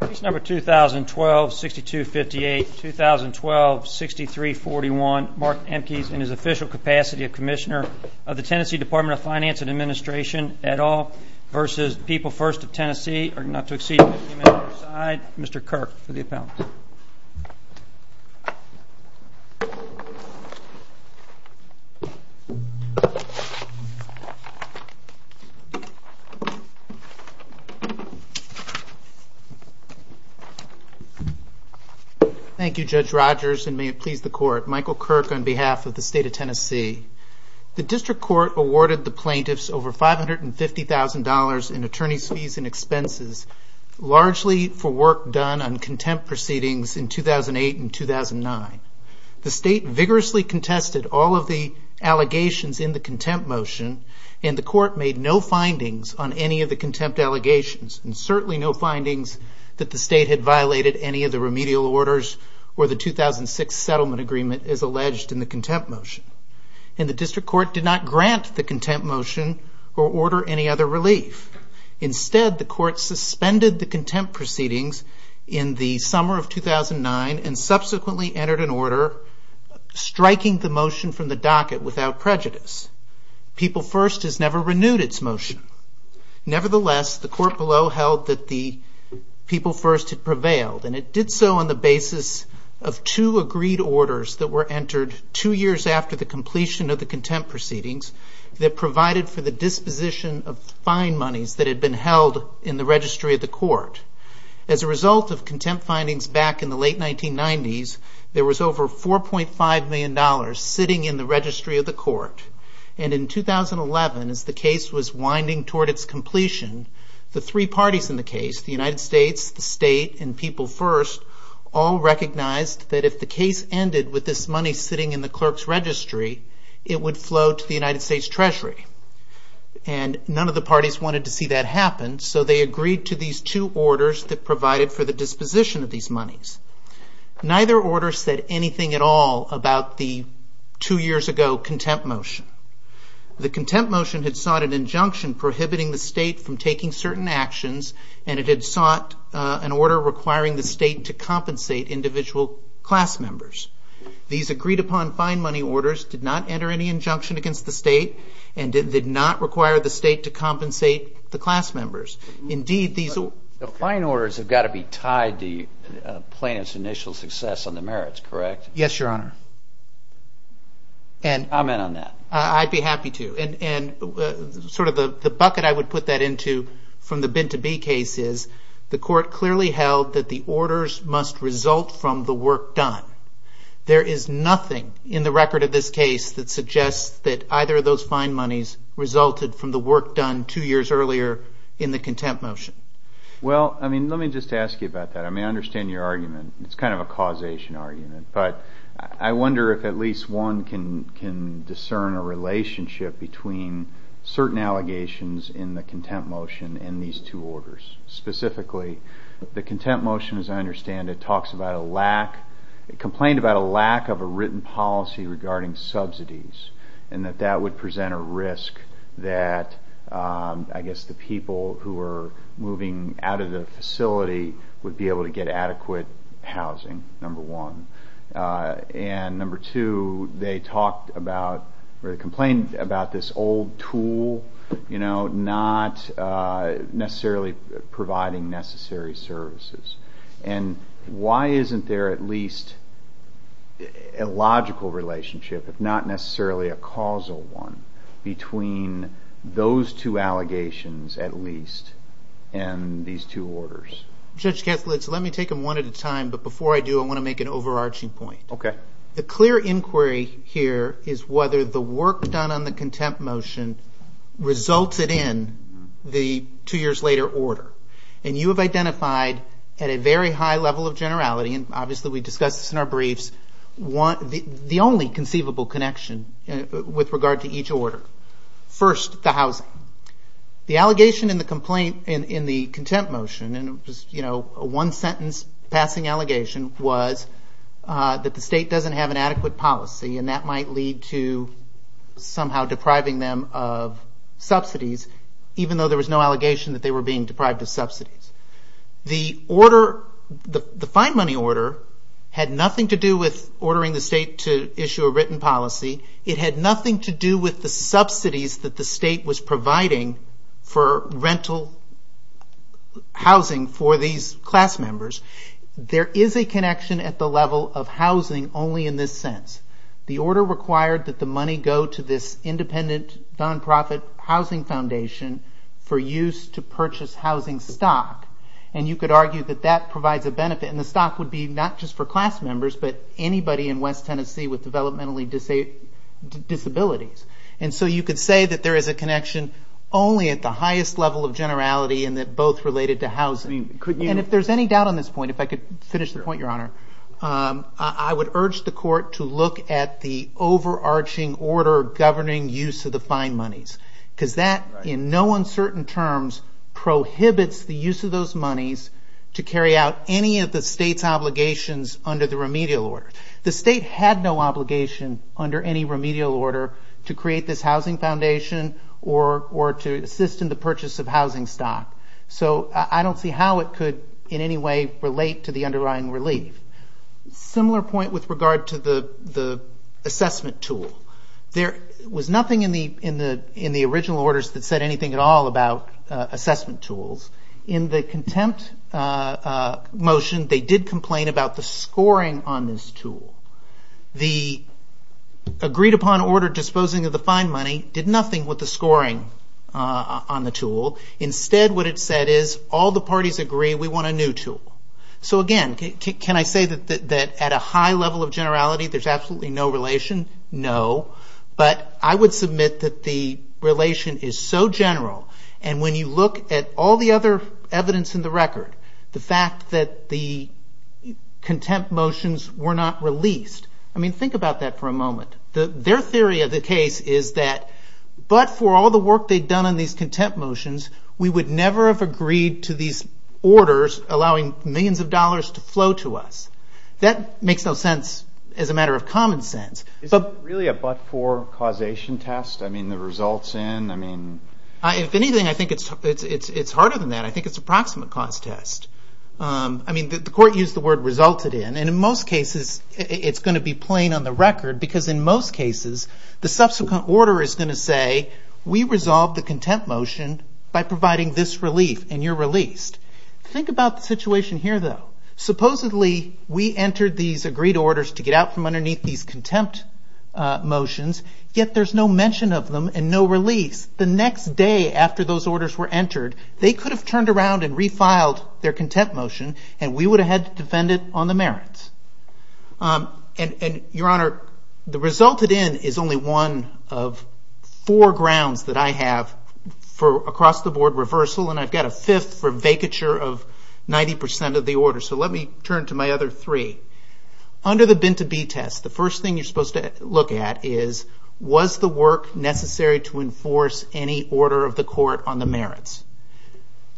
Case number 2012-6258, 2012-6341, Mark Emkes in his official capacity of Commissioner of the Tennessee Department of Finance and Administration, et al. v. People First of Tennessee, not to exceed 50 minutes each side, Mr. Kirk for the appellate. Thank you, Judge Rogers, and may it please the Court. Michael Kirk on behalf of the State of Tennessee. The District Court awarded the plaintiffs over $550,000 in attorney's fees and expenses, largely for work done on contempt proceedings in 2008 and 2009. The State vigorously contested all of the allegations in the contempt motion, and the Court made no findings on any of the contempt allegations, and certainly no findings that the State had violated any of the remedial orders or the 2006 settlement agreement as alleged in the contempt motion. And the District Court did not grant the contempt motion or order any other relief. Instead, the Court suspended the contempt proceedings in the summer of 2009 and subsequently entered an order striking the motion from the docket without prejudice. People First has never renewed its motion. Nevertheless, the Court below held that the People First had prevailed, and it did so on the basis of two agreed orders that were entered two years after the completion of the contempt proceedings that provided for the disposition of fine monies that had been held in the registry of the Court. As a result of contempt findings back in the late 1990s, there was over $4.5 million sitting in the registry of the Court. And in 2011, as the case was winding toward its completion, the three parties in the case, the United States, the State, and People First, all recognized that if the case ended with this money sitting in the clerk's registry, it would flow to the United States Treasury. And none of the parties wanted to see that happen, so they agreed to these two orders that provided for the disposition of these monies. Neither order said anything at all about the two years ago contempt motion. The contempt motion had sought an injunction prohibiting the State from taking certain actions, and it had sought an order requiring the State to compensate individual class members. These agreed-upon fine money orders did not enter any injunction against the State, and did not require the State to compensate the class members. The fine orders have got to be tied to plaintiff's initial success on the merits, correct? Yes, Your Honor. Comment on that. I'd be happy to. And sort of the bucket I would put that into from the bin-to-bee case is, the Court clearly held that the orders must result from the work done. There is nothing in the record of this case that suggests that either of those fine monies resulted from the work done two years earlier in the contempt motion. Well, I mean, let me just ask you about that. I mean, I understand your argument. It's kind of a causation argument. But I wonder if at least one can discern a relationship between certain allegations in the contempt motion and these two orders. Specifically, the contempt motion, as I understand it, talks about a lack, complained about a lack of a written policy regarding subsidies, and that that would present a risk that, I guess, the people who are moving out of the facility would be able to get adequate housing, number one. And number two, they talked about or complained about this old tool, you know, not necessarily providing necessary services. And why isn't there at least a logical relationship, if not necessarily a causal one, between those two allegations, at least, and these two orders? Judge Kaslitz, let me take them one at a time. But before I do, I want to make an overarching point. Okay. The clear inquiry here is whether the work done on the contempt motion resulted in the two years later order. And you have identified at a very high level of generality, and obviously we discussed this in our briefs, the only conceivable connection with regard to each order. First, the housing. The allegation in the contempt motion, and it was, you know, a one-sentence passing allegation, was that the state doesn't have an adequate policy, and that might lead to somehow depriving them of subsidies, even though there was no allegation that they were being deprived of subsidies. The order, the fine money order, had nothing to do with ordering the state to issue a written policy. It had nothing to do with the subsidies that the state was providing for rental housing for these class members. There is a connection at the level of housing only in this sense. The order required that the money go to this independent, non-profit housing foundation for use to purchase housing stock. And you could argue that that provides a benefit, and the stock would be not just for class members, but anybody in West Tennessee with developmentally disabled disabilities. And so you could say that there is a connection only at the highest level of generality and that both related to housing. And if there's any doubt on this point, if I could finish the point, Your Honor, I would urge the court to look at the overarching order governing use of the fine monies. Because that, in no uncertain terms, prohibits the use of those monies to carry out any of the state's obligations under the remedial order. The state had no obligation under any remedial order to create this housing foundation or to assist in the purchase of housing stock. So I don't see how it could in any way relate to the underlying relief. Similar point with regard to the assessment tool. There was nothing in the original orders that said anything at all about assessment tools. In the contempt motion, they did complain about the scoring on this tool. The agreed-upon order disposing of the fine money did nothing with the scoring on the tool. Instead, what it said is, all the parties agree, we want a new tool. So again, can I say that at a high level of generality, there's absolutely no relation? No. But I would submit that the relation is so general, and when you look at all the other evidence in the record, the fact that the contempt motions were not released, I mean, think about that for a moment. Their theory of the case is that, but for all the work they'd done on these contempt motions, we would never have agreed to these orders allowing millions of dollars to flow to us. That makes no sense as a matter of common sense. Is it really a but-for causation test? I mean, the results in? If anything, I think it's harder than that. I think it's a proximate cause test. I mean, the court used the word resulted in, and in most cases, it's going to be plain on the record because in most cases, the subsequent order is going to say, we resolved the contempt motion by providing this relief, and you're released. Think about the situation here, though. Supposedly, we entered these agreed orders to get out from underneath these contempt motions, yet there's no mention of them and no release. The next day after those orders were entered, they could have turned around and refiled their contempt motion, and we would have had to defend it on the merits. Your Honor, the resulted in is only one of four grounds that I have for across-the-board reversal, and I've got a fifth for vacature of 90% of the order, so let me turn to my other three. Under the Binta B test, the first thing you're supposed to look at is, was the work necessary to enforce any order of the court on the merits?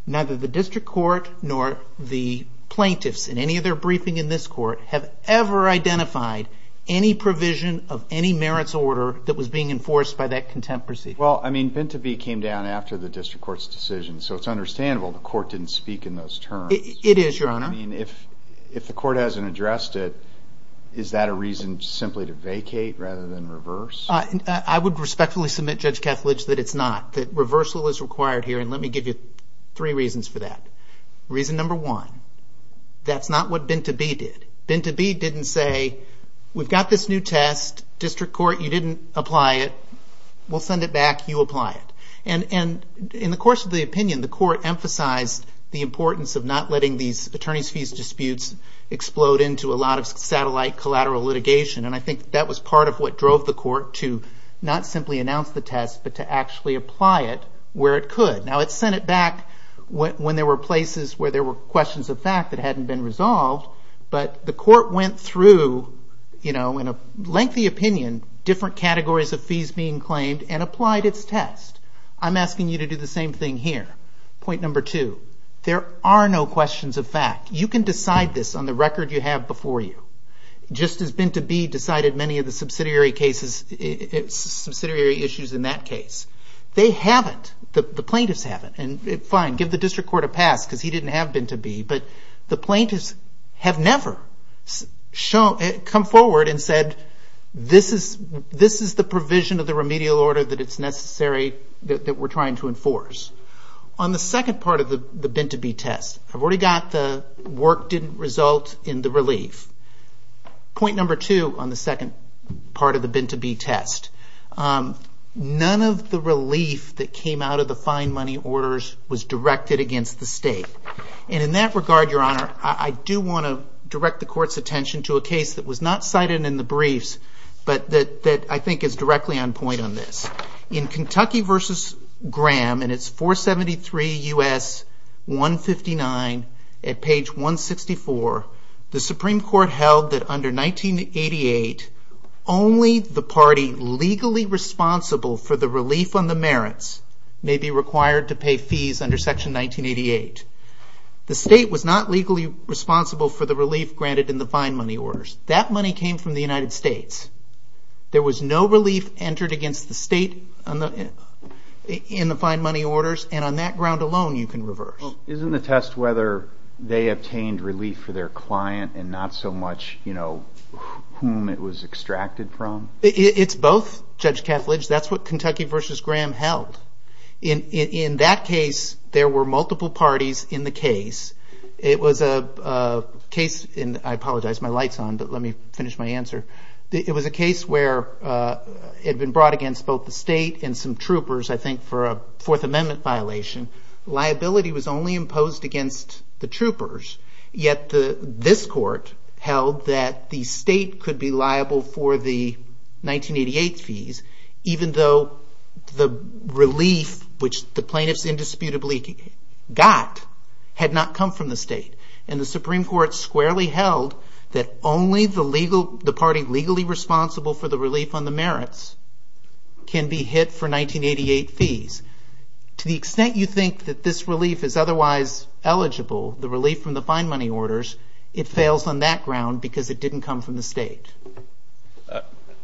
Neither the district court nor the plaintiffs in any of their briefing in this court have ever identified any provision of any merits order that was being enforced by that contempt procedure. Well, I mean, Binta B came down after the district court's decision, so it's understandable the court didn't speak in those terms. It is, Your Honor. I mean, if the court hasn't addressed it, is that a reason simply to vacate rather than reverse? I would respectfully submit, Judge Kethledge, that it's not. That reversal is required here, and let me give you three reasons for that. Reason number one, that's not what Binta B did. Binta B didn't say, we've got this new test. District court, you didn't apply it. We'll send it back. You apply it. And in the course of the opinion, the court emphasized the importance of not letting these attorneys' fees disputes explode into a lot of satellite collateral litigation, and I think that was part of what drove the court to not simply announce the test but to actually apply it where it could. Now, it sent it back when there were places where there were questions of fact that hadn't been resolved, but the court went through, you know, in a lengthy opinion, different categories of fees being claimed and applied its test. I'm asking you to do the same thing here. Point number two, there are no questions of fact. You can decide this on the record you have before you. Just as Binta B decided many of the subsidiary cases, subsidiary issues in that case, they haven't, the plaintiffs haven't, and fine, give the district court a pass because he didn't have Binta B, but the plaintiffs have never come forward and said, this is the provision of the remedial order that it's necessary, that we're trying to enforce. On the second part of the Binta B test, I've already got the work didn't result in the relief. Point number two on the second part of the Binta B test, none of the relief that came out of the fine money orders was directed against the state. And in that regard, Your Honor, I do want to direct the court's attention to a case that was not cited in the briefs but that I think is directly on point on this. In Kentucky v. Graham in its 473 U.S. 159 at page 164, the Supreme Court held that under 1988, only the party legally responsible for the relief on the merits may be required to pay fees under section 1988. The state was not legally responsible for the relief granted in the fine money orders. That money came from the United States. There was no relief entered against the state in the fine money orders, and on that ground alone, you can reverse. Isn't the test whether they obtained relief for their client and not so much whom it was extracted from? It's both, Judge Kethledge. That's what Kentucky v. Graham held. In that case, there were multiple parties in the case. It was a case, and I apologize, my light's on, but let me finish my answer. It was a case where it had been brought against both the state and some troopers, I think, for a Fourth Amendment violation. Liability was only imposed against the troopers, yet this court held that the state could be liable for the 1988 fees even though the relief, which the plaintiffs indisputably got, had not come from the state, and the Supreme Court squarely held that only the party legally responsible for the relief on the merits can be hit for 1988 fees. To the extent you think that this relief is otherwise eligible, the relief from the fine money orders, it fails on that ground because it didn't come from the state.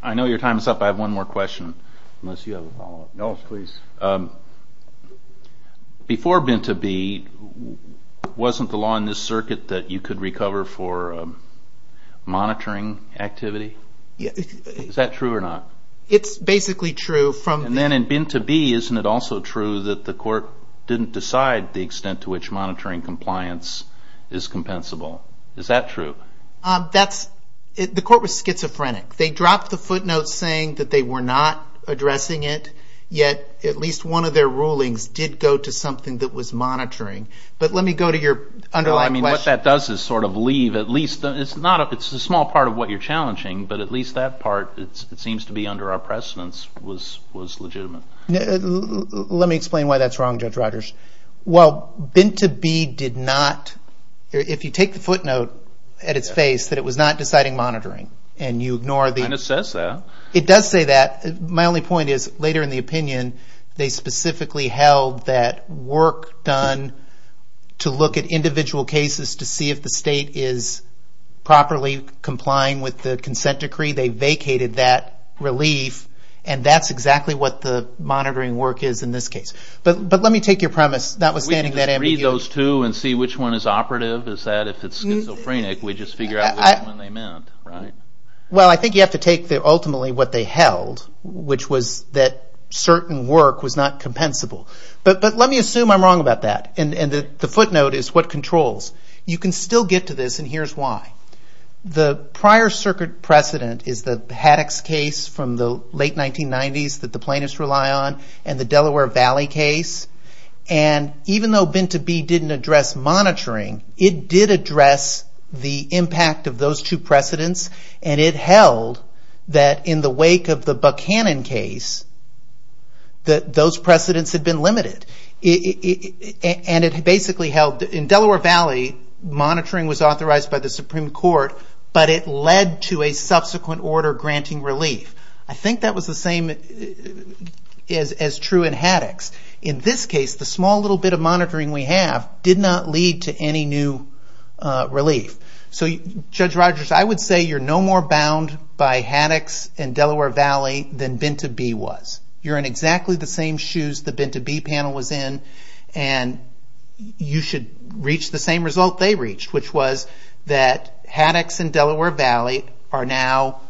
I know your time is up. I have one more question, unless you have a follow-up. No, please. Before Binta B, wasn't the law in this circuit that you could recover for monitoring activity? Is that true or not? It's basically true. Then in Binta B, isn't it also true that the court didn't decide the extent to which monitoring compliance is compensable? Is that true? The court was schizophrenic. They dropped the footnotes saying that they were not addressing it, yet at least one of their rulings did go to something that was monitoring. But let me go to your underlying question. What that does is sort of leave at least, it's a small part of what you're challenging, but at least that part, it seems to be under our precedence, was legitimate. Let me explain why that's wrong, Judge Rogers. While Binta B did not, if you take the footnote at its face, that it was not deciding monitoring, and you ignore the… It kind of says that. It does say that. My only point is, later in the opinion, they specifically held that work done to look at individual cases to see if the state is properly complying with the consent decree. They vacated that relief, and that's exactly what the monitoring work is in this case. But let me take your premise, notwithstanding that ambiguity. We can just read those two and see which one is operative. Is that if it's schizophrenic, we just figure out which one they meant, right? Well, I think you have to take, ultimately, what they held, which was that certain work was not compensable. But let me assume I'm wrong about that, and the footnote is what controls. You can still get to this, and here's why. The prior circuit precedent is the Haddox case from the late 1990s that the plaintiffs rely on and the Delaware Valley case. Even though Binta B didn't address monitoring, it did address the impact of those two precedents, and it held that in the wake of the Buchanan case, that those precedents had been limited. And it basically held that in Delaware Valley, monitoring was authorized by the Supreme Court, but it led to a subsequent order granting relief. I think that was the same as true in Haddox. In this case, the small little bit of monitoring we have did not lead to any new relief. So, Judge Rogers, I would say you're no more bound by Haddox and Delaware Valley than Binta B was. You're in exactly the same shoes the Binta B panel was in, and you should reach the same result they reached, which was that Haddox and Delaware Valley are now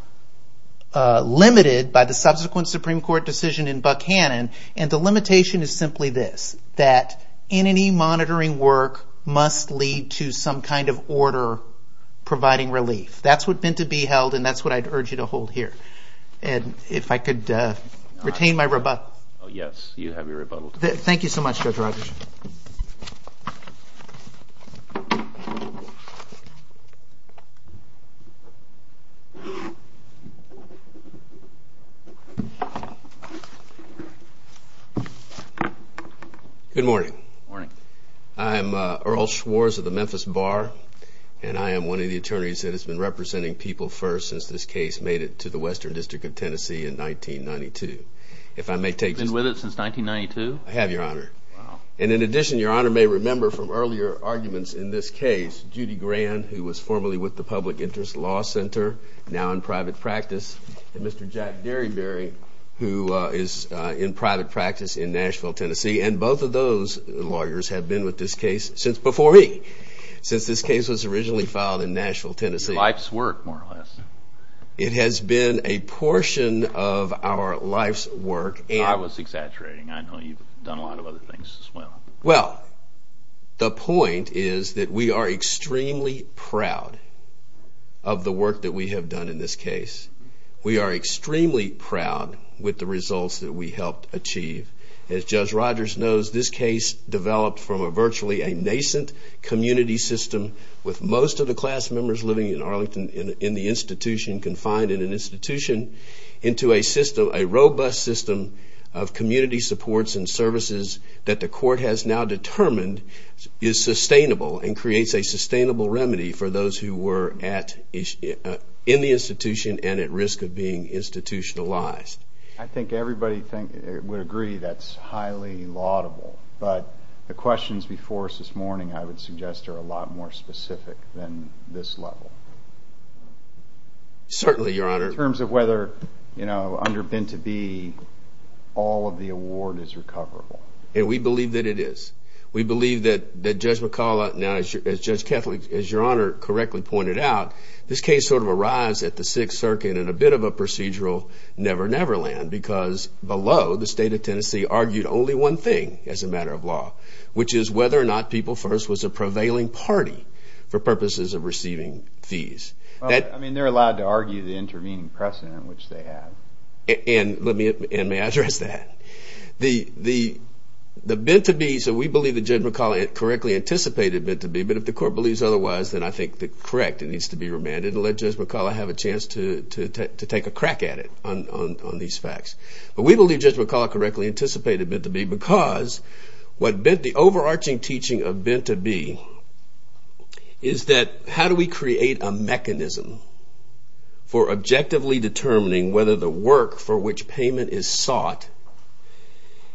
limited by the subsequent Supreme Court decision in Buchanan, and the limitation is simply this, that any monitoring work must lead to some kind of order providing relief. That's what Binta B held, and that's what I'd urge you to hold here. And if I could retain my rebuttal. Yes, you have your rebuttal. Thank you so much, Judge Rogers. Good morning. Good morning. I'm Earl Schwarz of the Memphis Bar, and I am one of the attorneys that has been representing People First since this case made it to the Western District of Tennessee in 1992. Have you been with it since 1992? I have, Your Honor. Wow. And in addition, Your Honor may remember from earlier arguments in this case Judy Grand, who was formerly with the Public Interest Law Center, now in private practice, and Mr. Jack Derryberry, who is in private practice in Nashville, Tennessee, and both of those lawyers have been with this case before me since this case was originally filed in Nashville, Tennessee. Life's work, more or less. It has been a portion of our life's work. I was exaggerating. I know you've done a lot of other things as well. Well, the point is that we are extremely proud of the work that we have done in this case. We are extremely proud with the results that we helped achieve. As Judge Rogers knows, this case developed from virtually a nascent community system with most of the class members living in Arlington in the institution, confined in an institution, into a system, a robust system of community supports and services that the court has now determined is sustainable and creates a sustainable remedy for those who were in the institution and at risk of being institutionalized. I think everybody would agree that's highly laudable, but the questions before us this morning, I would suggest, are a lot more specific than this level. Certainly, Your Honor. In terms of whether, you know, under Ben-to-be, all of the award is recoverable. And we believe that it is. We believe that Judge McCullough, as Judge Kethledge, as Your Honor correctly pointed out, this case sort of arrives at the Sixth Circuit in a bit of a procedural never-never land because below, the state of Tennessee argued only one thing as a matter of law, which is whether or not People First was a prevailing party for purposes of receiving fees. I mean, they're allowed to argue the intervening precedent which they have. And may I address that? The Ben-to-be, so we believe that Judge McCullough correctly anticipated Ben-to-be, but if the court believes otherwise, then I think that, correct, it needs to be remanded and let Judge McCullough have a chance to take a crack at it on these facts. But we believe Judge McCullough correctly anticipated Ben-to-be because what the overarching teaching of Ben-to-be is that how do we create a mechanism for objectively determining whether the work for which payment is sought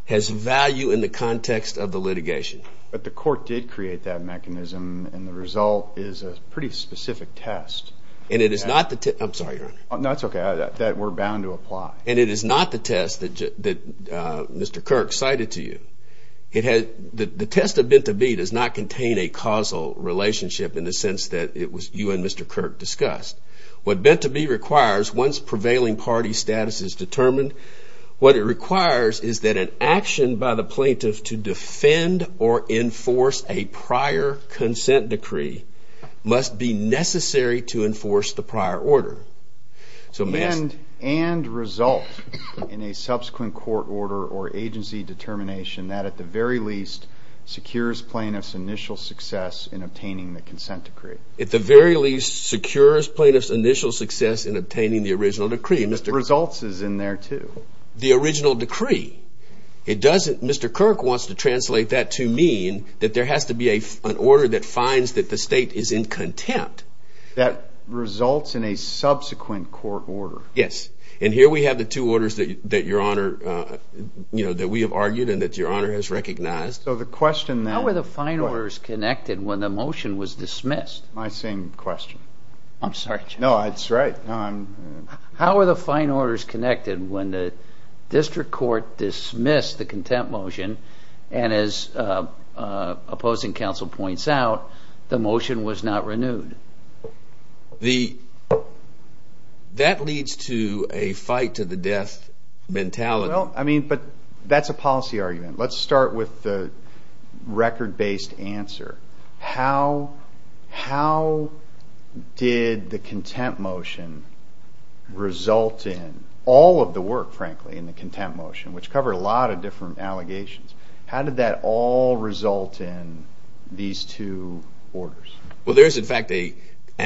has value in the context of the litigation. But the court did create that mechanism, and the result is a pretty specific test. And it is not the test. I'm sorry, Your Honor. That's okay. We're bound to apply. And it is not the test that Mr. Kirk cited to you. The test of Ben-to-be does not contain a causal relationship in the sense that you and Mr. Kirk discussed. What Ben-to-be requires, once prevailing party status is determined, what it requires is that an action by the plaintiff to defend or enforce a prior consent decree must be necessary to enforce the prior order. And result in a subsequent court order or agency determination that at the very least secures plaintiff's initial success in obtaining the consent decree. At the very least secures plaintiff's initial success in obtaining the original decree. The results is in there, too. The original decree. Mr. Kirk wants to translate that to mean that there has to be an order that finds that the state is in contempt. That results in a subsequent court order. Yes. And here we have the two orders that we have argued and that Your Honor has recognized. How were the fine orders connected when the motion was dismissed? My same question. I'm sorry. No, that's right. How were the fine orders connected when the district court dismissed the contempt motion and as opposing counsel points out, the motion was not renewed? That leads to a fight to the death mentality. That's a policy argument. Let's start with the record-based answer. How did the contempt motion result in all of the work, frankly, in the contempt motion, which covered a lot of different allegations? How did that all result in these two orders? Well, there is, in fact, an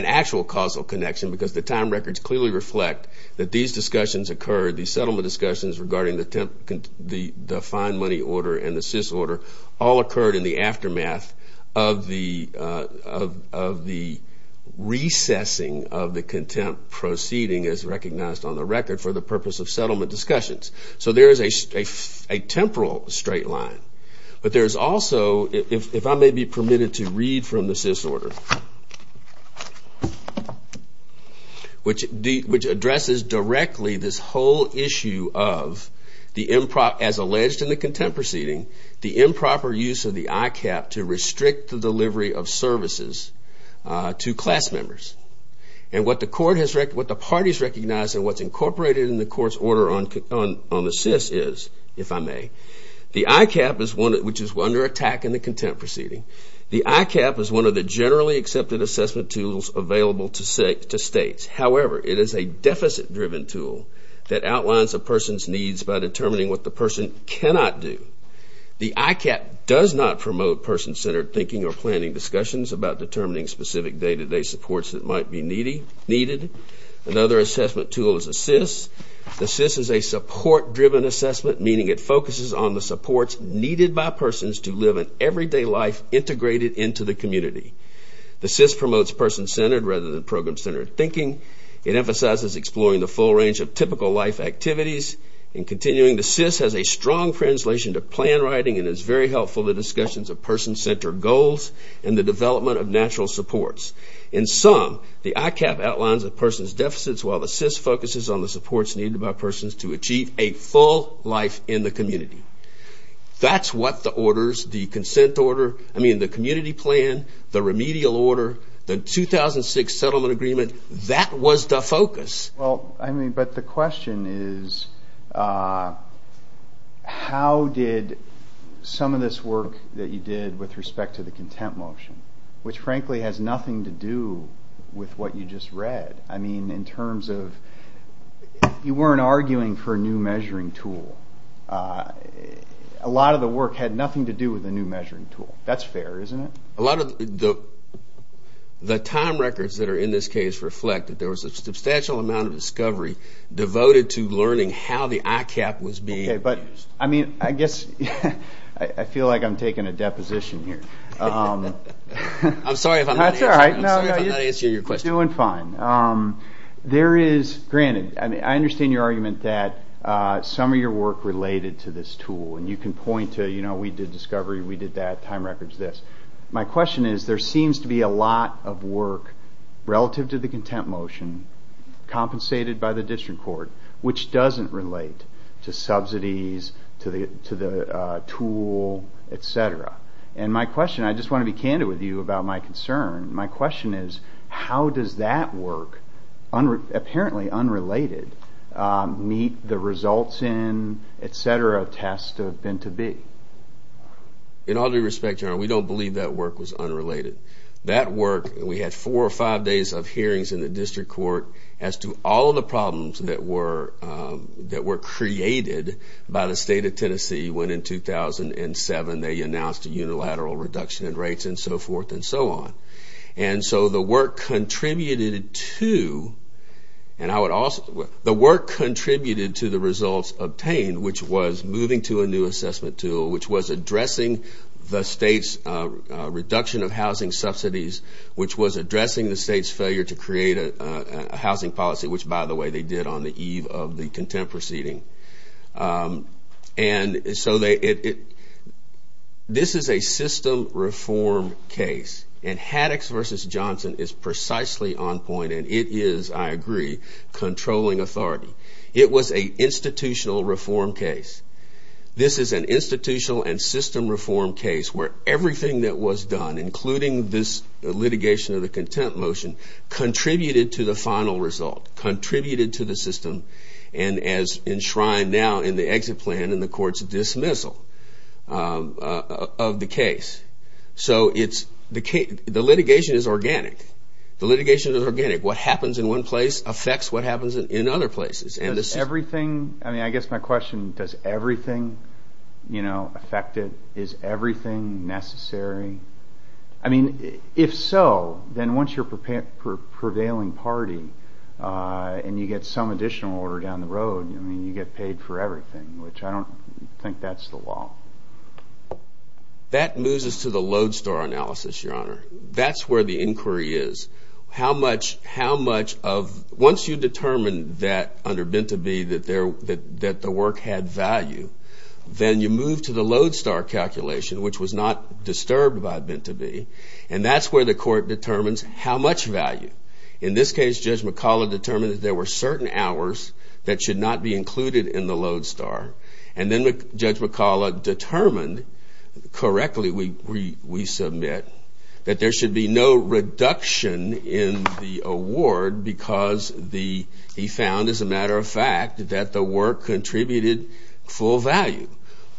actual causal connection because the time records clearly reflect that these discussions occurred, these settlement discussions regarding the fine money order and the cis order, all occurred in the aftermath of the recessing of the contempt proceeding as recognized on the record for the purpose of settlement discussions. So there is a temporal straight line. But there is also, if I may be permitted to read from the cis order, which addresses directly this whole issue of, as alleged in the contempt proceeding, the improper use of the ICAP to restrict the delivery of services to class members. And what the parties recognize and what's incorporated in the court's order on the cis is, if I may, the ICAP, which is under attack in the contempt proceeding, the ICAP is one of the generally accepted assessment tools available to states. However, it is a deficit-driven tool that outlines a person's needs by determining what the person cannot do. The ICAP does not promote person-centered thinking or planning discussions about determining specific day-to-day supports that might be needed. Another assessment tool is a cis. The cis is a support-driven assessment, meaning it focuses on the supports needed by persons to live an everyday life integrated into the community. The cis promotes person-centered rather than program-centered thinking. It emphasizes exploring the full range of typical life activities. In continuing, the cis has a strong translation to plan writing and is very helpful to discussions of person-centered goals and the development of natural supports. In sum, the ICAP outlines a person's deficits, while the cis focuses on the supports needed by persons to achieve a full life in the community. That's what the orders, the consent order, I mean, the community plan, the remedial order, the 2006 settlement agreement, that was the focus. Well, I mean, but the question is how did some of this work that you did with respect to the content motion, which frankly has nothing to do with what you just read. I mean, in terms of you weren't arguing for a new measuring tool. A lot of the work had nothing to do with a new measuring tool. That's fair, isn't it? A lot of the time records that are in this case reflect that there was a substantial amount of discovery devoted to learning how the ICAP was being used. Okay, but I mean, I guess I feel like I'm taking a deposition here. I'm sorry if I'm not answering your question. You're doing fine. There is, granted, I understand your argument that some of your work related to this tool, and you can point to, you know, we did discovery, we did that, time records, this. My question is there seems to be a lot of work relative to the content motion compensated by the district court which doesn't relate to subsidies, to the tool, et cetera. And my question, I just want to be candid with you about my concern. My question is how does that work, apparently unrelated, meet the results in, et cetera, test of been to be? In all due respect, General, we don't believe that work was unrelated. That work, we had four or five days of hearings in the district court as to all of the problems that were created by the state of Tennessee when in 2007 they announced a unilateral reduction in rates and so forth and so on. And so the work contributed to the results obtained, which was moving to a new assessment tool, which was addressing the state's reduction of housing subsidies, which was addressing the state's failure to create a housing policy, which, by the way, they did on the eve of the contempt proceeding. And so this is a system reform case, and Haddox v. Johnson is precisely on point, and it is, I agree, controlling authority. It was an institutional reform case. This is an institutional and system reform case where everything that was done, including this litigation of the contempt motion, contributed to the final result, contributed to the system, and is enshrined now in the exit plan in the court's dismissal of the case. So the litigation is organic. The litigation is organic. What happens in one place affects what happens in other places. I guess my question, does everything affect it? Is everything necessary? I mean, if so, then once you're a prevailing party and you get some additional order down the road, I mean, you get paid for everything, which I don't think that's the law. That moves us to the lodestar analysis, Your Honor. That's where the inquiry is. How much of once you determine that under Binti B that the work had value, then you move to the lodestar calculation, which was not disturbed by Binti B, and that's where the court determines how much value. In this case, Judge McCullough determined that there were certain hours that should not be included in the lodestar, and then Judge McCullough determined correctly, we submit, that there should be no reduction in the award because he found, as a matter of fact, that the work contributed full value.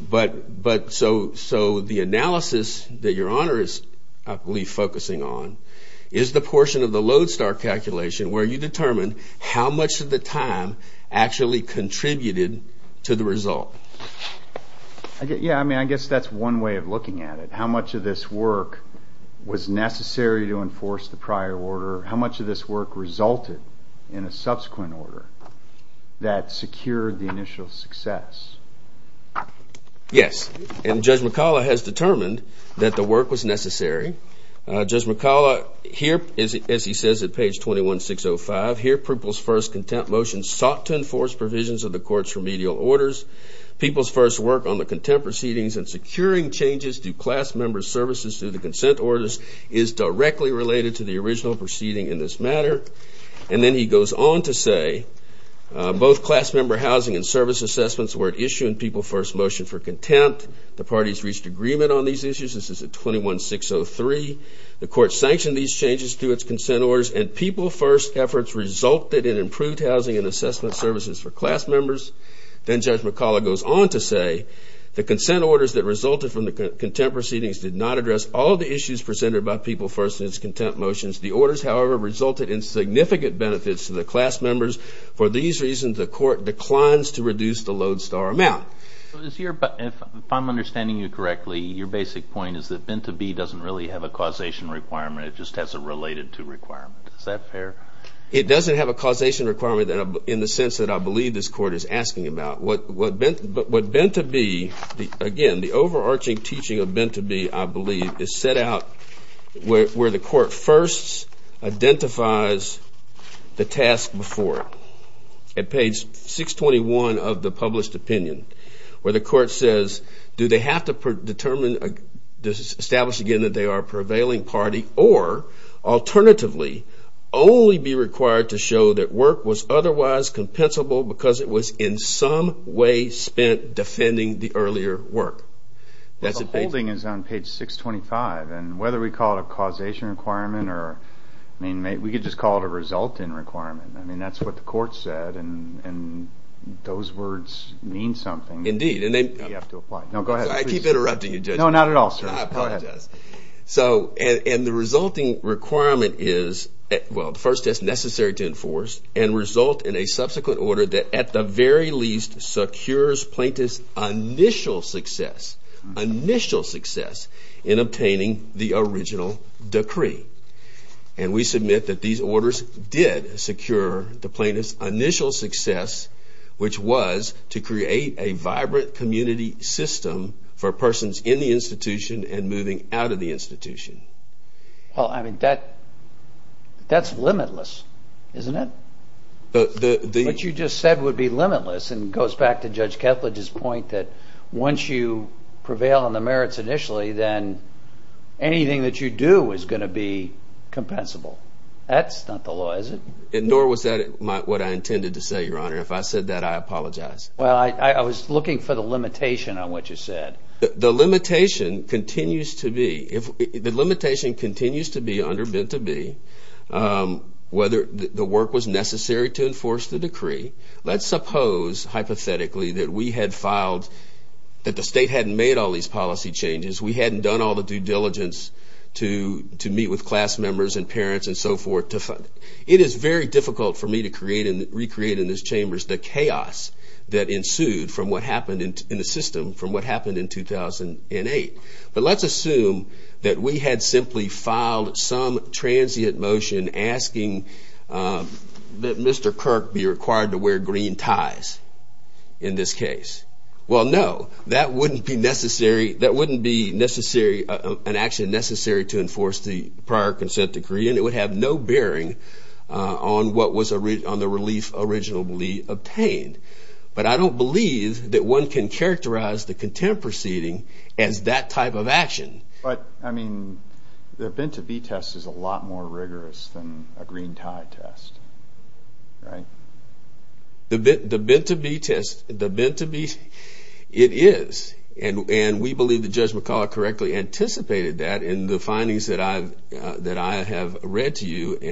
So the analysis that Your Honor is, I believe, focusing on is the portion of the lodestar calculation where you determine how much of the time actually contributed to the result. Yeah, I mean, I guess that's one way of looking at it, how much of this work was necessary to enforce the prior order, or how much of this work resulted in a subsequent order that secured the initial success. Yes, and Judge McCullough has determined that the work was necessary. Judge McCullough, here, as he says at page 21605, here, Prupl's first contempt motion sought to enforce provisions of the court's remedial orders. Prupl's first work on the contempt proceedings and securing changes to class member services through the consent orders is directly related to the original proceeding in this matter. And then he goes on to say, both class member housing and service assessments were at issue in Prupl's first motion for contempt. The parties reached agreement on these issues. This is at 21603. The court sanctioned these changes to its consent orders, and Prupl's first efforts resulted in improved housing and assessment services for class members. Then Judge McCullough goes on to say, the consent orders that resulted from the contempt proceedings did not address all of the issues presented by Prupl's first and his contempt motions. The orders, however, resulted in significant benefits to the class members. For these reasons, the court declines to reduce the lodestar amount. If I'm understanding you correctly, your basic point is that bent to be doesn't really have a causation requirement. It just has a related to requirement. Is that fair? It doesn't have a causation requirement in the sense that I believe this court is asking about. What bent to be, again, the overarching teaching of bent to be, I believe, is set out where the court first identifies the task before it. At page 621 of the published opinion, where the court says, do they have to establish again that they are a prevailing party, or alternatively, only be required to show that work was otherwise compensable because it was in some way spent defending the earlier work. The holding is on page 625, and whether we call it a causation requirement, we could just call it a result in requirement. I mean, that's what the court said, and those words mean something. Indeed. You have to apply. No, go ahead. I keep interrupting you, Judge. No, not at all, sir. I apologize. And the resulting requirement is, well, first, it's necessary to enforce and result in a subsequent order that, at the very least, secures plaintiff's initial success in obtaining the original decree. And we submit that these orders did secure the plaintiff's initial success, which was to create a vibrant community system for persons in the institution and moving out of the institution. Well, I mean, that's limitless, isn't it? What you just said would be limitless, and it goes back to Judge Kethledge's point that once you prevail on the merits initially, then anything that you do is going to be compensable. That's not the law, is it? Nor was that what I intended to say, Your Honor. If I said that, I apologize. Well, I was looking for the limitation on what you said. The limitation continues to be. The limitation continues to be, undervent to be, whether the work was necessary to enforce the decree. Let's suppose, hypothetically, that we had filed, that the state hadn't made all these policy changes, we hadn't done all the due diligence to meet with class members and parents and so forth. It is very difficult for me to recreate in this chamber the chaos that ensued from what happened in the system, from what happened in 2008. But let's assume that we had simply filed some transient motion asking that Mr. Kirk be required to wear green ties in this case. Well, no. That wouldn't be necessary. That wouldn't be an action necessary to enforce the prior consent decree, and it would have no bearing on the relief originally obtained. But I don't believe that one can characterize the contempt proceeding as that type of action. But, I mean, the bend-to-be test is a lot more rigorous than a green-tie test. Right? The bend-to-be test, the bend-to-be, it is. And we believe that Judge McCullough correctly anticipated that in the findings that I have read to you. What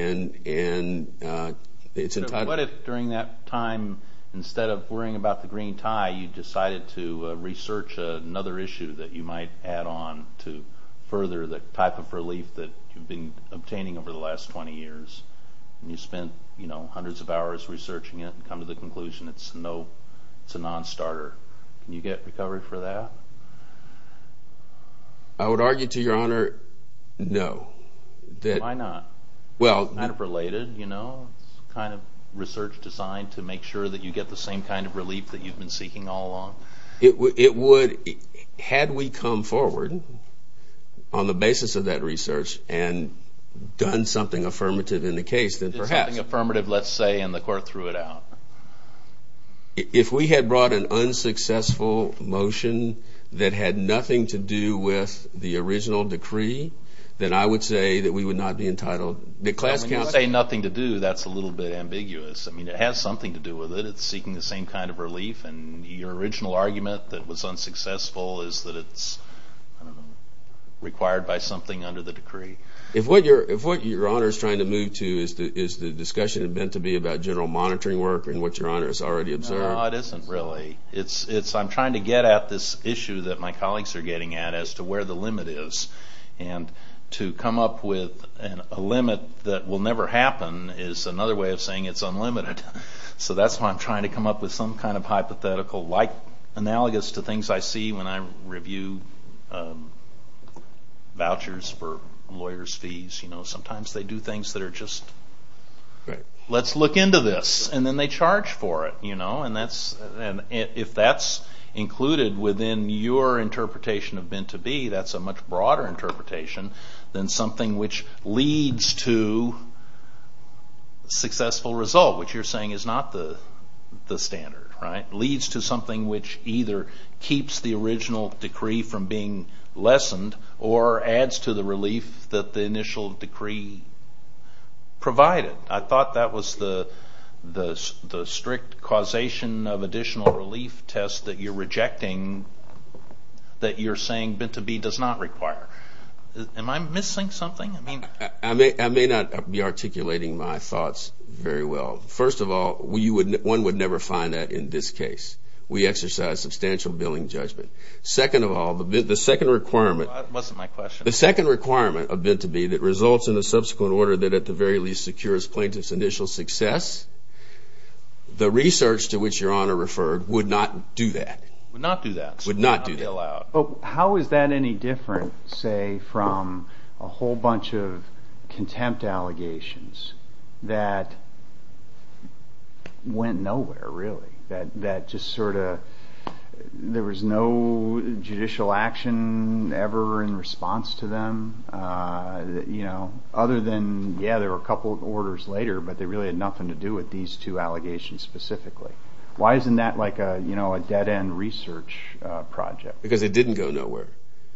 if during that time, instead of worrying about the green tie, you decided to research another issue that you might add on to further the type of relief that you've been obtaining over the last 20 years, and you spent, you know, hundreds of hours researching it and come to the conclusion it's a non-starter? Can you get recovery for that? I would argue, to your honor, no. Why not? It's kind of related, you know? It would, had we come forward on the basis of that research and done something affirmative in the case, then perhaps. Did something affirmative, let's say, and the court threw it out. If we had brought an unsuccessful motion that had nothing to do with the original decree, then I would say that we would not be entitled. When you say nothing to do, that's a little bit ambiguous. I mean, it has something to do with it. It's seeking the same kind of relief, and your original argument that it was unsuccessful is that it's, I don't know, required by something under the decree. If what your honor is trying to move to is the discussion meant to be about general monitoring work and what your honor has already observed. No, it isn't really. I'm trying to get at this issue that my colleagues are getting at as to where the limit is, and to come up with a limit that will never happen is another way of saying it's unlimited. So that's why I'm trying to come up with some kind of hypothetical, analogous to things I see when I review vouchers for lawyers' fees. Sometimes they do things that are just, let's look into this, and then they charge for it. If that's included within your interpretation of meant to be, that's a much broader interpretation than something which leads to a successful result, which you're saying is not the standard, right? Leads to something which either keeps the original decree from being lessened or adds to the relief that the initial decree provided. I thought that was the strict causation of additional relief test that you're rejecting, that you're saying meant to be does not require. Am I missing something? I may not be articulating my thoughts very well. First of all, one would never find that in this case. We exercise substantial billing judgment. Second of all, the second requirement of meant to be that results in a subsequent order that at the very least secures plaintiff's initial success, the research to which Your Honor referred would not do that. Would not do that. Would not do that. How is that any different, say, from a whole bunch of contempt allegations that went nowhere, really? That just sort of there was no judicial action ever in response to them other than, yeah, there were a couple of orders later, but they really had nothing to do with these two allegations specifically. Why isn't that like a dead-end research project? Because it didn't go nowhere.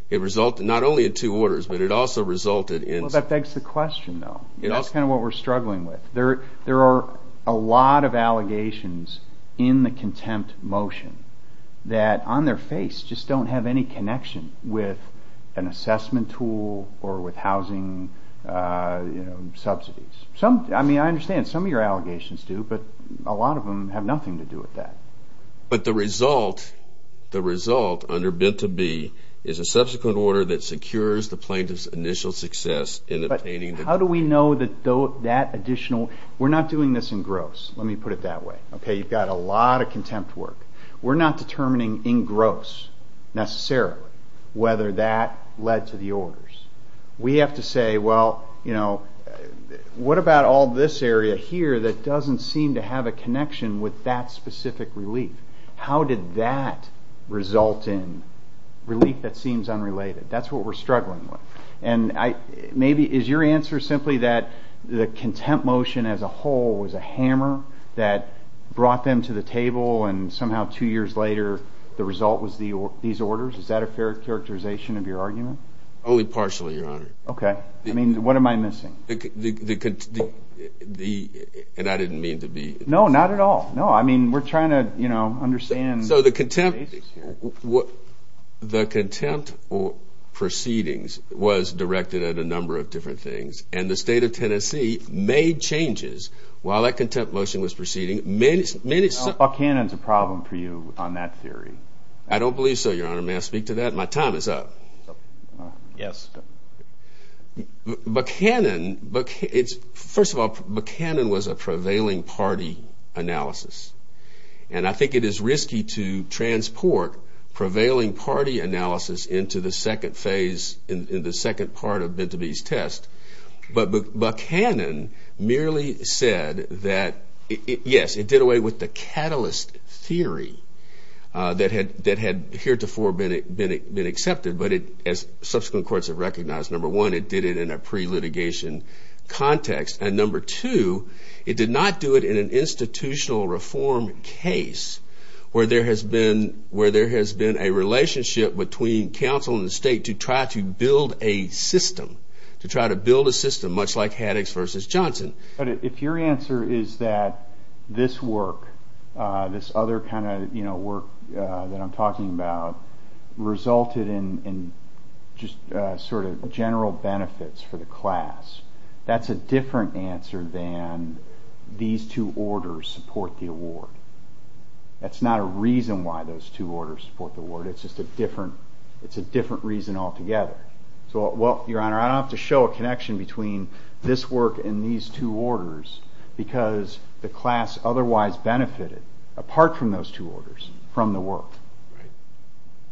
It resulted not only in two orders, but it also resulted in... Well, that begs the question, though. That's kind of what we're struggling with. There are a lot of allegations in the contempt motion that on their face just don't have any connection with an assessment tool or with housing subsidies. I mean, I understand some of your allegations do, but a lot of them have nothing to do with that. But the result under Binta B is a subsequent order that secures the plaintiff's initial success in obtaining... But how do we know that that additional... We're not doing this in gross. Let me put it that way. Okay, you've got a lot of contempt work. We're not determining in gross, necessarily, whether that led to the orders. We have to say, well, you know, what about all this area here that doesn't seem to have a connection with that specific relief? How did that result in relief that seems unrelated? That's what we're struggling with. And maybe is your answer simply that the contempt motion as a whole was a hammer that brought them to the table and somehow two years later the result was these orders? Is that a fair characterization of your argument? Only partially, Your Honor. Okay. I mean, what am I missing? And I didn't mean to be... No, not at all. No, I mean, we're trying to, you know, understand... So the contempt proceedings was directed at a number of different things, and the State of Tennessee made changes while that contempt motion was proceeding. Buckhannon's a problem for you on that theory. I don't believe so, Your Honor. May I speak to that? My time is up. Yes. Buckhannon, it's... First of all, Buckhannon was a prevailing party analysis, and I think it is risky to transport prevailing party analysis into the second phase, in the second part of Bentobee's test. But Buckhannon merely said that, yes, it did away with the catalyst theory that had heretofore been accepted, but as subsequent courts have recognized, number one, it did it in a pre-litigation context, and number two, it did not do it in an institutional reform case where there has been a relationship between counsel and the state to try to build a system, to try to build a system, much like Haddox v. Johnson. But if your answer is that this work, this other kind of work that I'm talking about, resulted in just sort of general benefits for the class, that's a different answer than these two orders support the award. That's not a reason why those two orders support the award. It's just a different reason altogether. Well, Your Honor, I don't have to show a connection between this work and these two orders because the class otherwise benefited, apart from those two orders, from the work.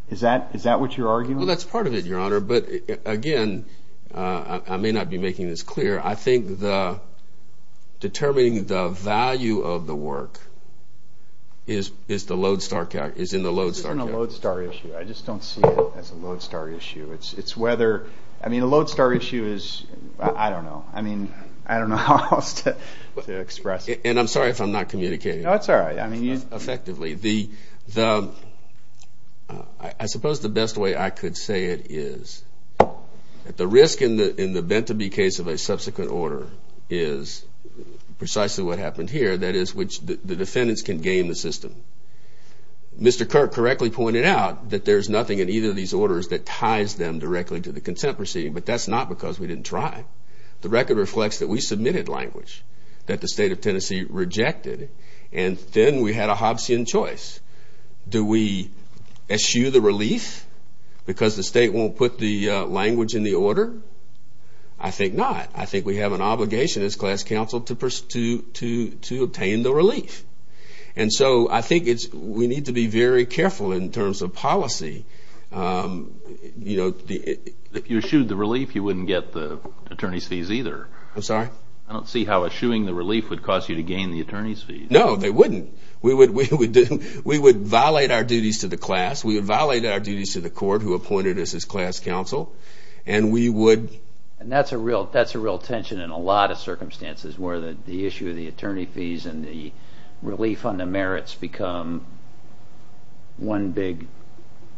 Is that what you're arguing? Well, that's part of it, Your Honor, but again, I may not be making this clear. I think determining the value of the work is in the lodestar category. I just don't see it as a lodestar issue. It's whether, I mean, a lodestar issue is, I don't know. I mean, I don't know how else to express it. And I'm sorry if I'm not communicating. No, it's all right. Effectively, I suppose the best way I could say it is that the risk in the Bent to Be case of a subsequent order is precisely what happened here, that is, which the defendants can game the system. Mr. Kirk correctly pointed out that there's nothing in either of these orders that ties them directly to the consent proceeding, but that's not because we didn't try. The record reflects that we submitted language that the state of Tennessee rejected, and then we had a Hobbesian choice. Do we eschew the relief because the state won't put the language in the order? I think not. And so I think we need to be very careful in terms of policy. If you eschewed the relief, you wouldn't get the attorney's fees either. I'm sorry? I don't see how eschewing the relief would cause you to gain the attorney's fees. No, they wouldn't. We would violate our duties to the class. We would violate our duties to the court who appointed us as class counsel, and we would. And that's a real tension in a lot of circumstances where the issue of the attorney fees and the relief on the merits become one big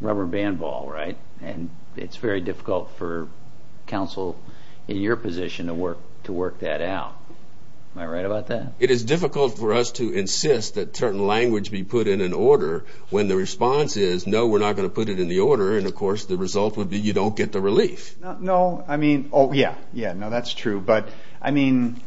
rubber band ball, right? And it's very difficult for counsel in your position to work that out. Am I right about that? It is difficult for us to insist that certain language be put in an order when the response is, no, we're not going to put it in the order, and, of course, the result would be you don't get the relief. No, I mean, oh, yeah, yeah, no, that's true. But, I mean,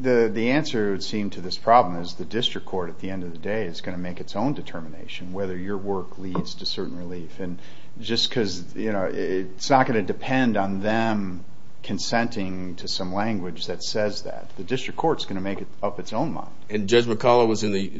the answer, it would seem, to this problem is the district court, at the end of the day, is going to make its own determination whether your work leads to certain relief. And just because, you know, it's not going to depend on them consenting to some language that says that. The district court is going to make up its own mind. And Judge McCullough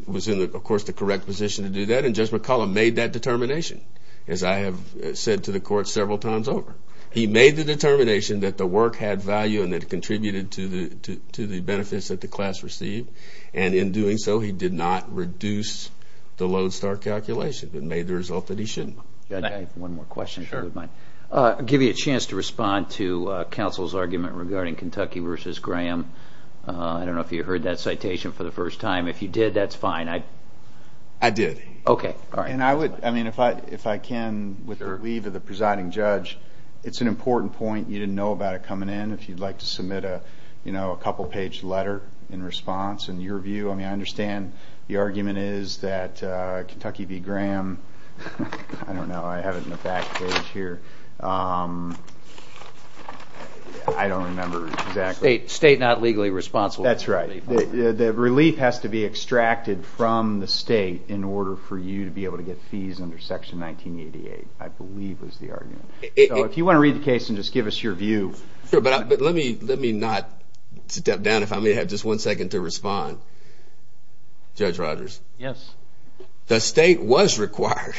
was in, of course, the correct position to do that, and Judge McCullough made that determination, as I have said to the court several times over. He made the determination that the work had value and that it contributed to the benefits that the class received. And in doing so, he did not reduce the Lodestar calculation. It made the result that he shouldn't. One more question. I'll give you a chance to respond to counsel's argument regarding Kentucky v. Graham. I don't know if you heard that citation for the first time. I did. Okay, all right. And I would, I mean, if I can, with the leave of the presiding judge, it's an important point. You didn't know about it coming in. If you'd like to submit a, you know, a couple-page letter in response, in your view. I mean, I understand the argument is that Kentucky v. Graham, I don't know. I have it in the back page here. I don't remember exactly. State not legally responsible. That's right. The relief has to be extracted from the state in order for you to be able to get fees under Section 1988, I believe was the argument. So if you want to read the case and just give us your view. Sure, but let me not step down. If I may have just one second to respond. Judge Rogers. Yes. The state was required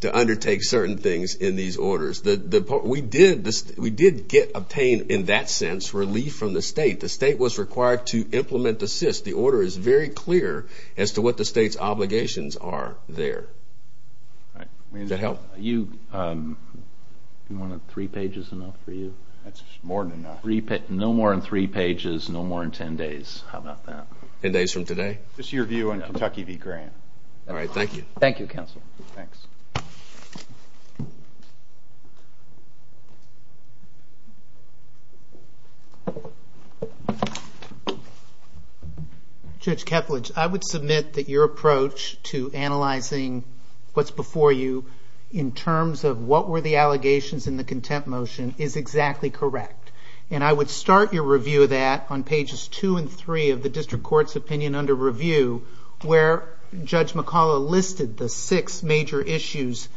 to undertake certain things in these orders. We did get obtained, in that sense, relief from the state. The state was required to implement the SIS. The order is very clear as to what the state's obligations are there. Does that help? Do you want three pages enough for you? That's more than enough. No more than three pages, no more than ten days. How about that? Ten days from today? This is your view on Kentucky v. Graham. All right, thank you. Thank you, counsel. Thanks. Judge Kepledge, I would submit that your approach to analyzing what's before you in terms of what were the allegations in the contempt motion is exactly correct. I would start your review of that on pages two and three of the district court's opinion under review, where Judge McCollough listed the six major issues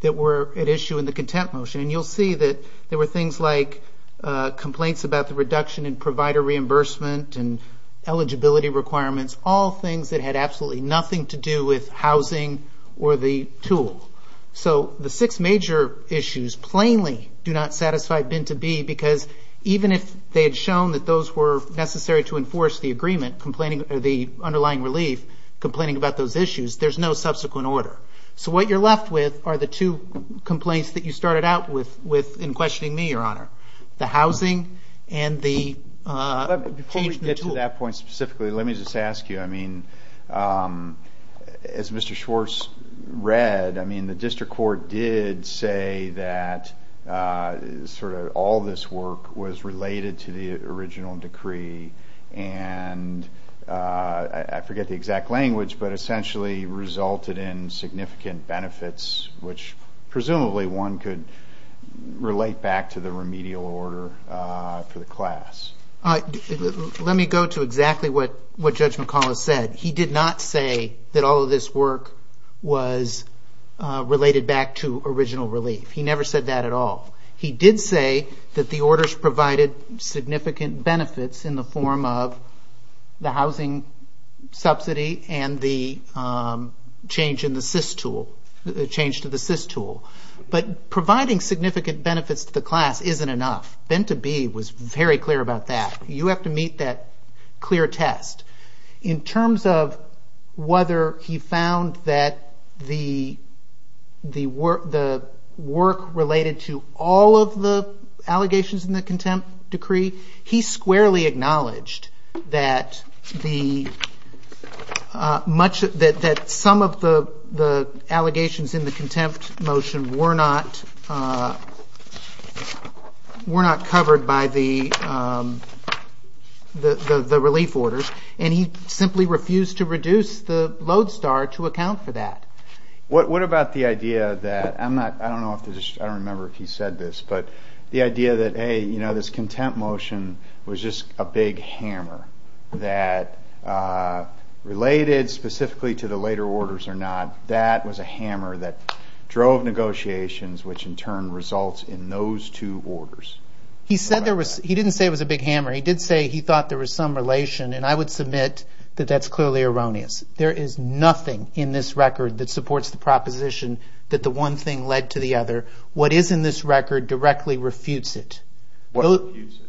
that were at issue in the contempt motion. And you'll see that there were things like complaints about the reduction in provider reimbursement and eligibility requirements, all things that had absolutely nothing to do with housing or the tool. So the six major issues plainly do not satisfy bin to be, because even if they had shown that those were necessary to enforce the agreement, the underlying relief, complaining about those issues, there's no subsequent order. So what you're left with are the two complaints that you started out with in questioning me, Your Honor, the housing and the change in the tool. Before we get to that point specifically, let me just ask you, I mean, as Mr. Schwartz read, I mean, the district court did say that sort of all this work was related to the original decree, and I forget the exact language, but essentially resulted in significant benefits, which presumably one could relate back to the remedial order for the class. Let me go to exactly what Judge McCollough said. He did not say that all of this work was related back to original relief. He never said that at all. He did say that the orders provided significant benefits in the form of the housing subsidy and the change to the SIS tool. But providing significant benefits to the class isn't enough. Bin to be was very clear about that. You have to meet that clear test. In terms of whether he found that the work related to all of the allegations in the contempt decree, he squarely acknowledged that some of the allegations in the contempt motion were not covered by the relief orders, and he simply refused to reduce the load star to account for that. What about the idea that, I don't remember if he said this, but the idea that, hey, this contempt motion was just a big hammer that related specifically to the later orders or not. That was a hammer that drove negotiations, which in turn results in those two orders. He didn't say it was a big hammer. He did say he thought there was some relation, and I would submit that that's clearly erroneous. There is nothing in this record that supports the proposition that the one thing led to the other. What is in this record directly refutes it. What refutes it?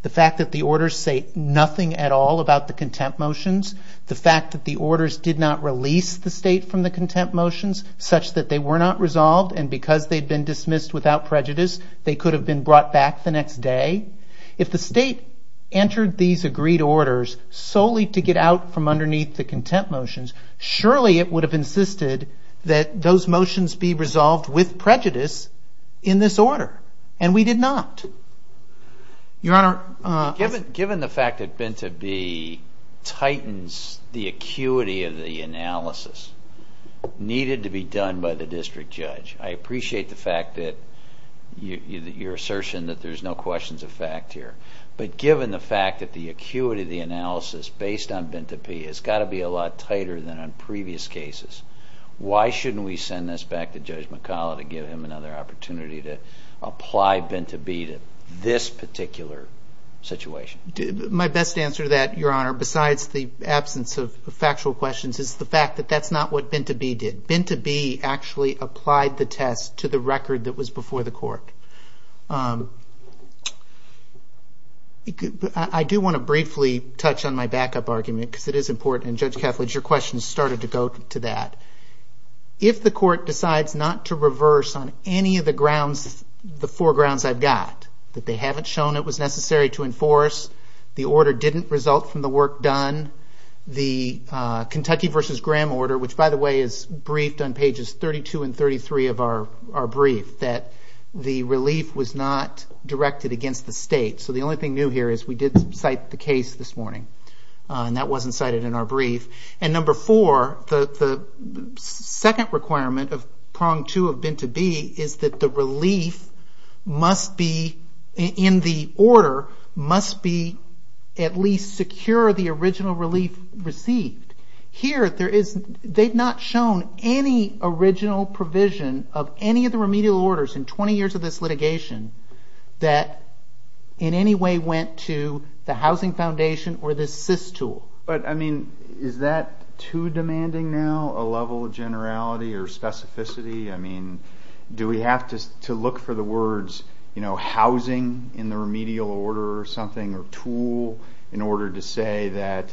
The fact that the orders say nothing at all about the contempt motions, the fact that the orders did not release the state from the contempt motions, such that they were not resolved, and because they'd been dismissed without prejudice, they could have been brought back the next day. If the state entered these agreed orders solely to get out from underneath the contempt motions, surely it would have insisted that those motions be resolved with prejudice in this order, and we did not. Your Honor... Given the fact that Binta B. tightens the acuity of the analysis needed to be done by the district judge, I appreciate your assertion that there's no questions of fact here, but given the fact that the acuity of the analysis based on Binta B. has got to be a lot tighter than on previous cases, why shouldn't we send this back to Judge McCollough to give him another opportunity to apply Binta B. to this particular situation? My best answer to that, Your Honor, besides the absence of factual questions, is the fact that that's not what Binta B. did. Binta B. actually applied the test to the record that was before the court. I do want to briefly touch on my backup argument because it is important, and Judge Kethledge, your question started to go to that. If the court decides not to reverse on any of the grounds, the four grounds I've got, that they haven't shown it was necessary to enforce, the order didn't result from the work done, the Kentucky v. Graham order, which by the way is briefed on pages 32 and 33 of our brief, that the relief was not directed against the state. So the only thing new here is we did cite the case this morning, and that wasn't cited in our brief. And number four, the second requirement of prong two of Binta B. is that the relief must be, in the order, must be at least secure the original relief received. Here, they've not shown any original provision of any of the remedial orders in 20 years of this litigation that in any way went to the housing foundation or the SIS tool. But, I mean, is that too demanding now, a level of generality or specificity? I mean, do we have to look for the words, you know, housing in the remedial order or something, or tool in order to say that,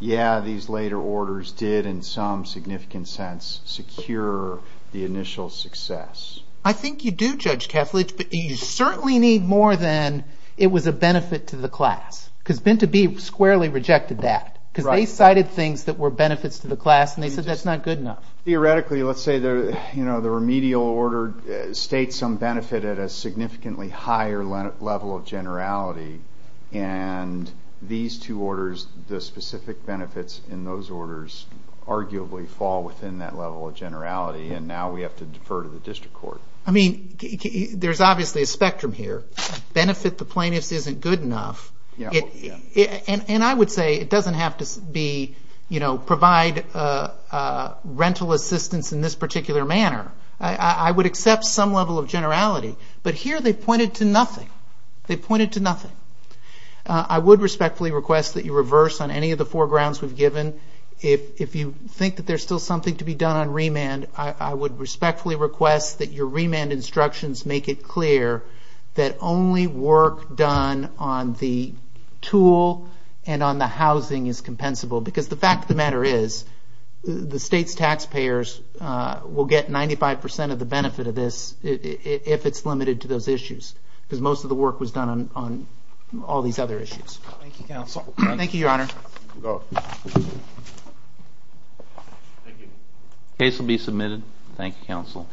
yeah, these later orders did in some significant sense secure the initial success? I think you do, Judge Kathledge, but you certainly need more than it was a benefit to the class. Because Binta B. squarely rejected that. Because they cited things that were benefits to the class, and they said that's not good enough. Theoretically, let's say the remedial order states some benefit at a significantly higher level of generality, and these two orders, the specific benefits in those orders, arguably fall within that level of generality, and now we have to defer to the district court. I mean, there's obviously a spectrum here. Benefit to plaintiffs isn't good enough. And I would say it doesn't have to be, you know, provide rental assistance in this particular manner. I would accept some level of generality. But here they pointed to nothing. They pointed to nothing. I would respectfully request that you reverse on any of the foregrounds we've given. If you think that there's still something to be done on remand, I would respectfully request that your remand instructions make it clear that only work done on the tool and on the housing is compensable. Because the fact of the matter is the state's taxpayers will get 95% of the benefit of this if it's limited to those issues. Because most of the work was done on all these other issues. Thank you, Counsel. Thank you, Your Honor. Go ahead. Thank you. Case will be submitted. Thank you, Counsel.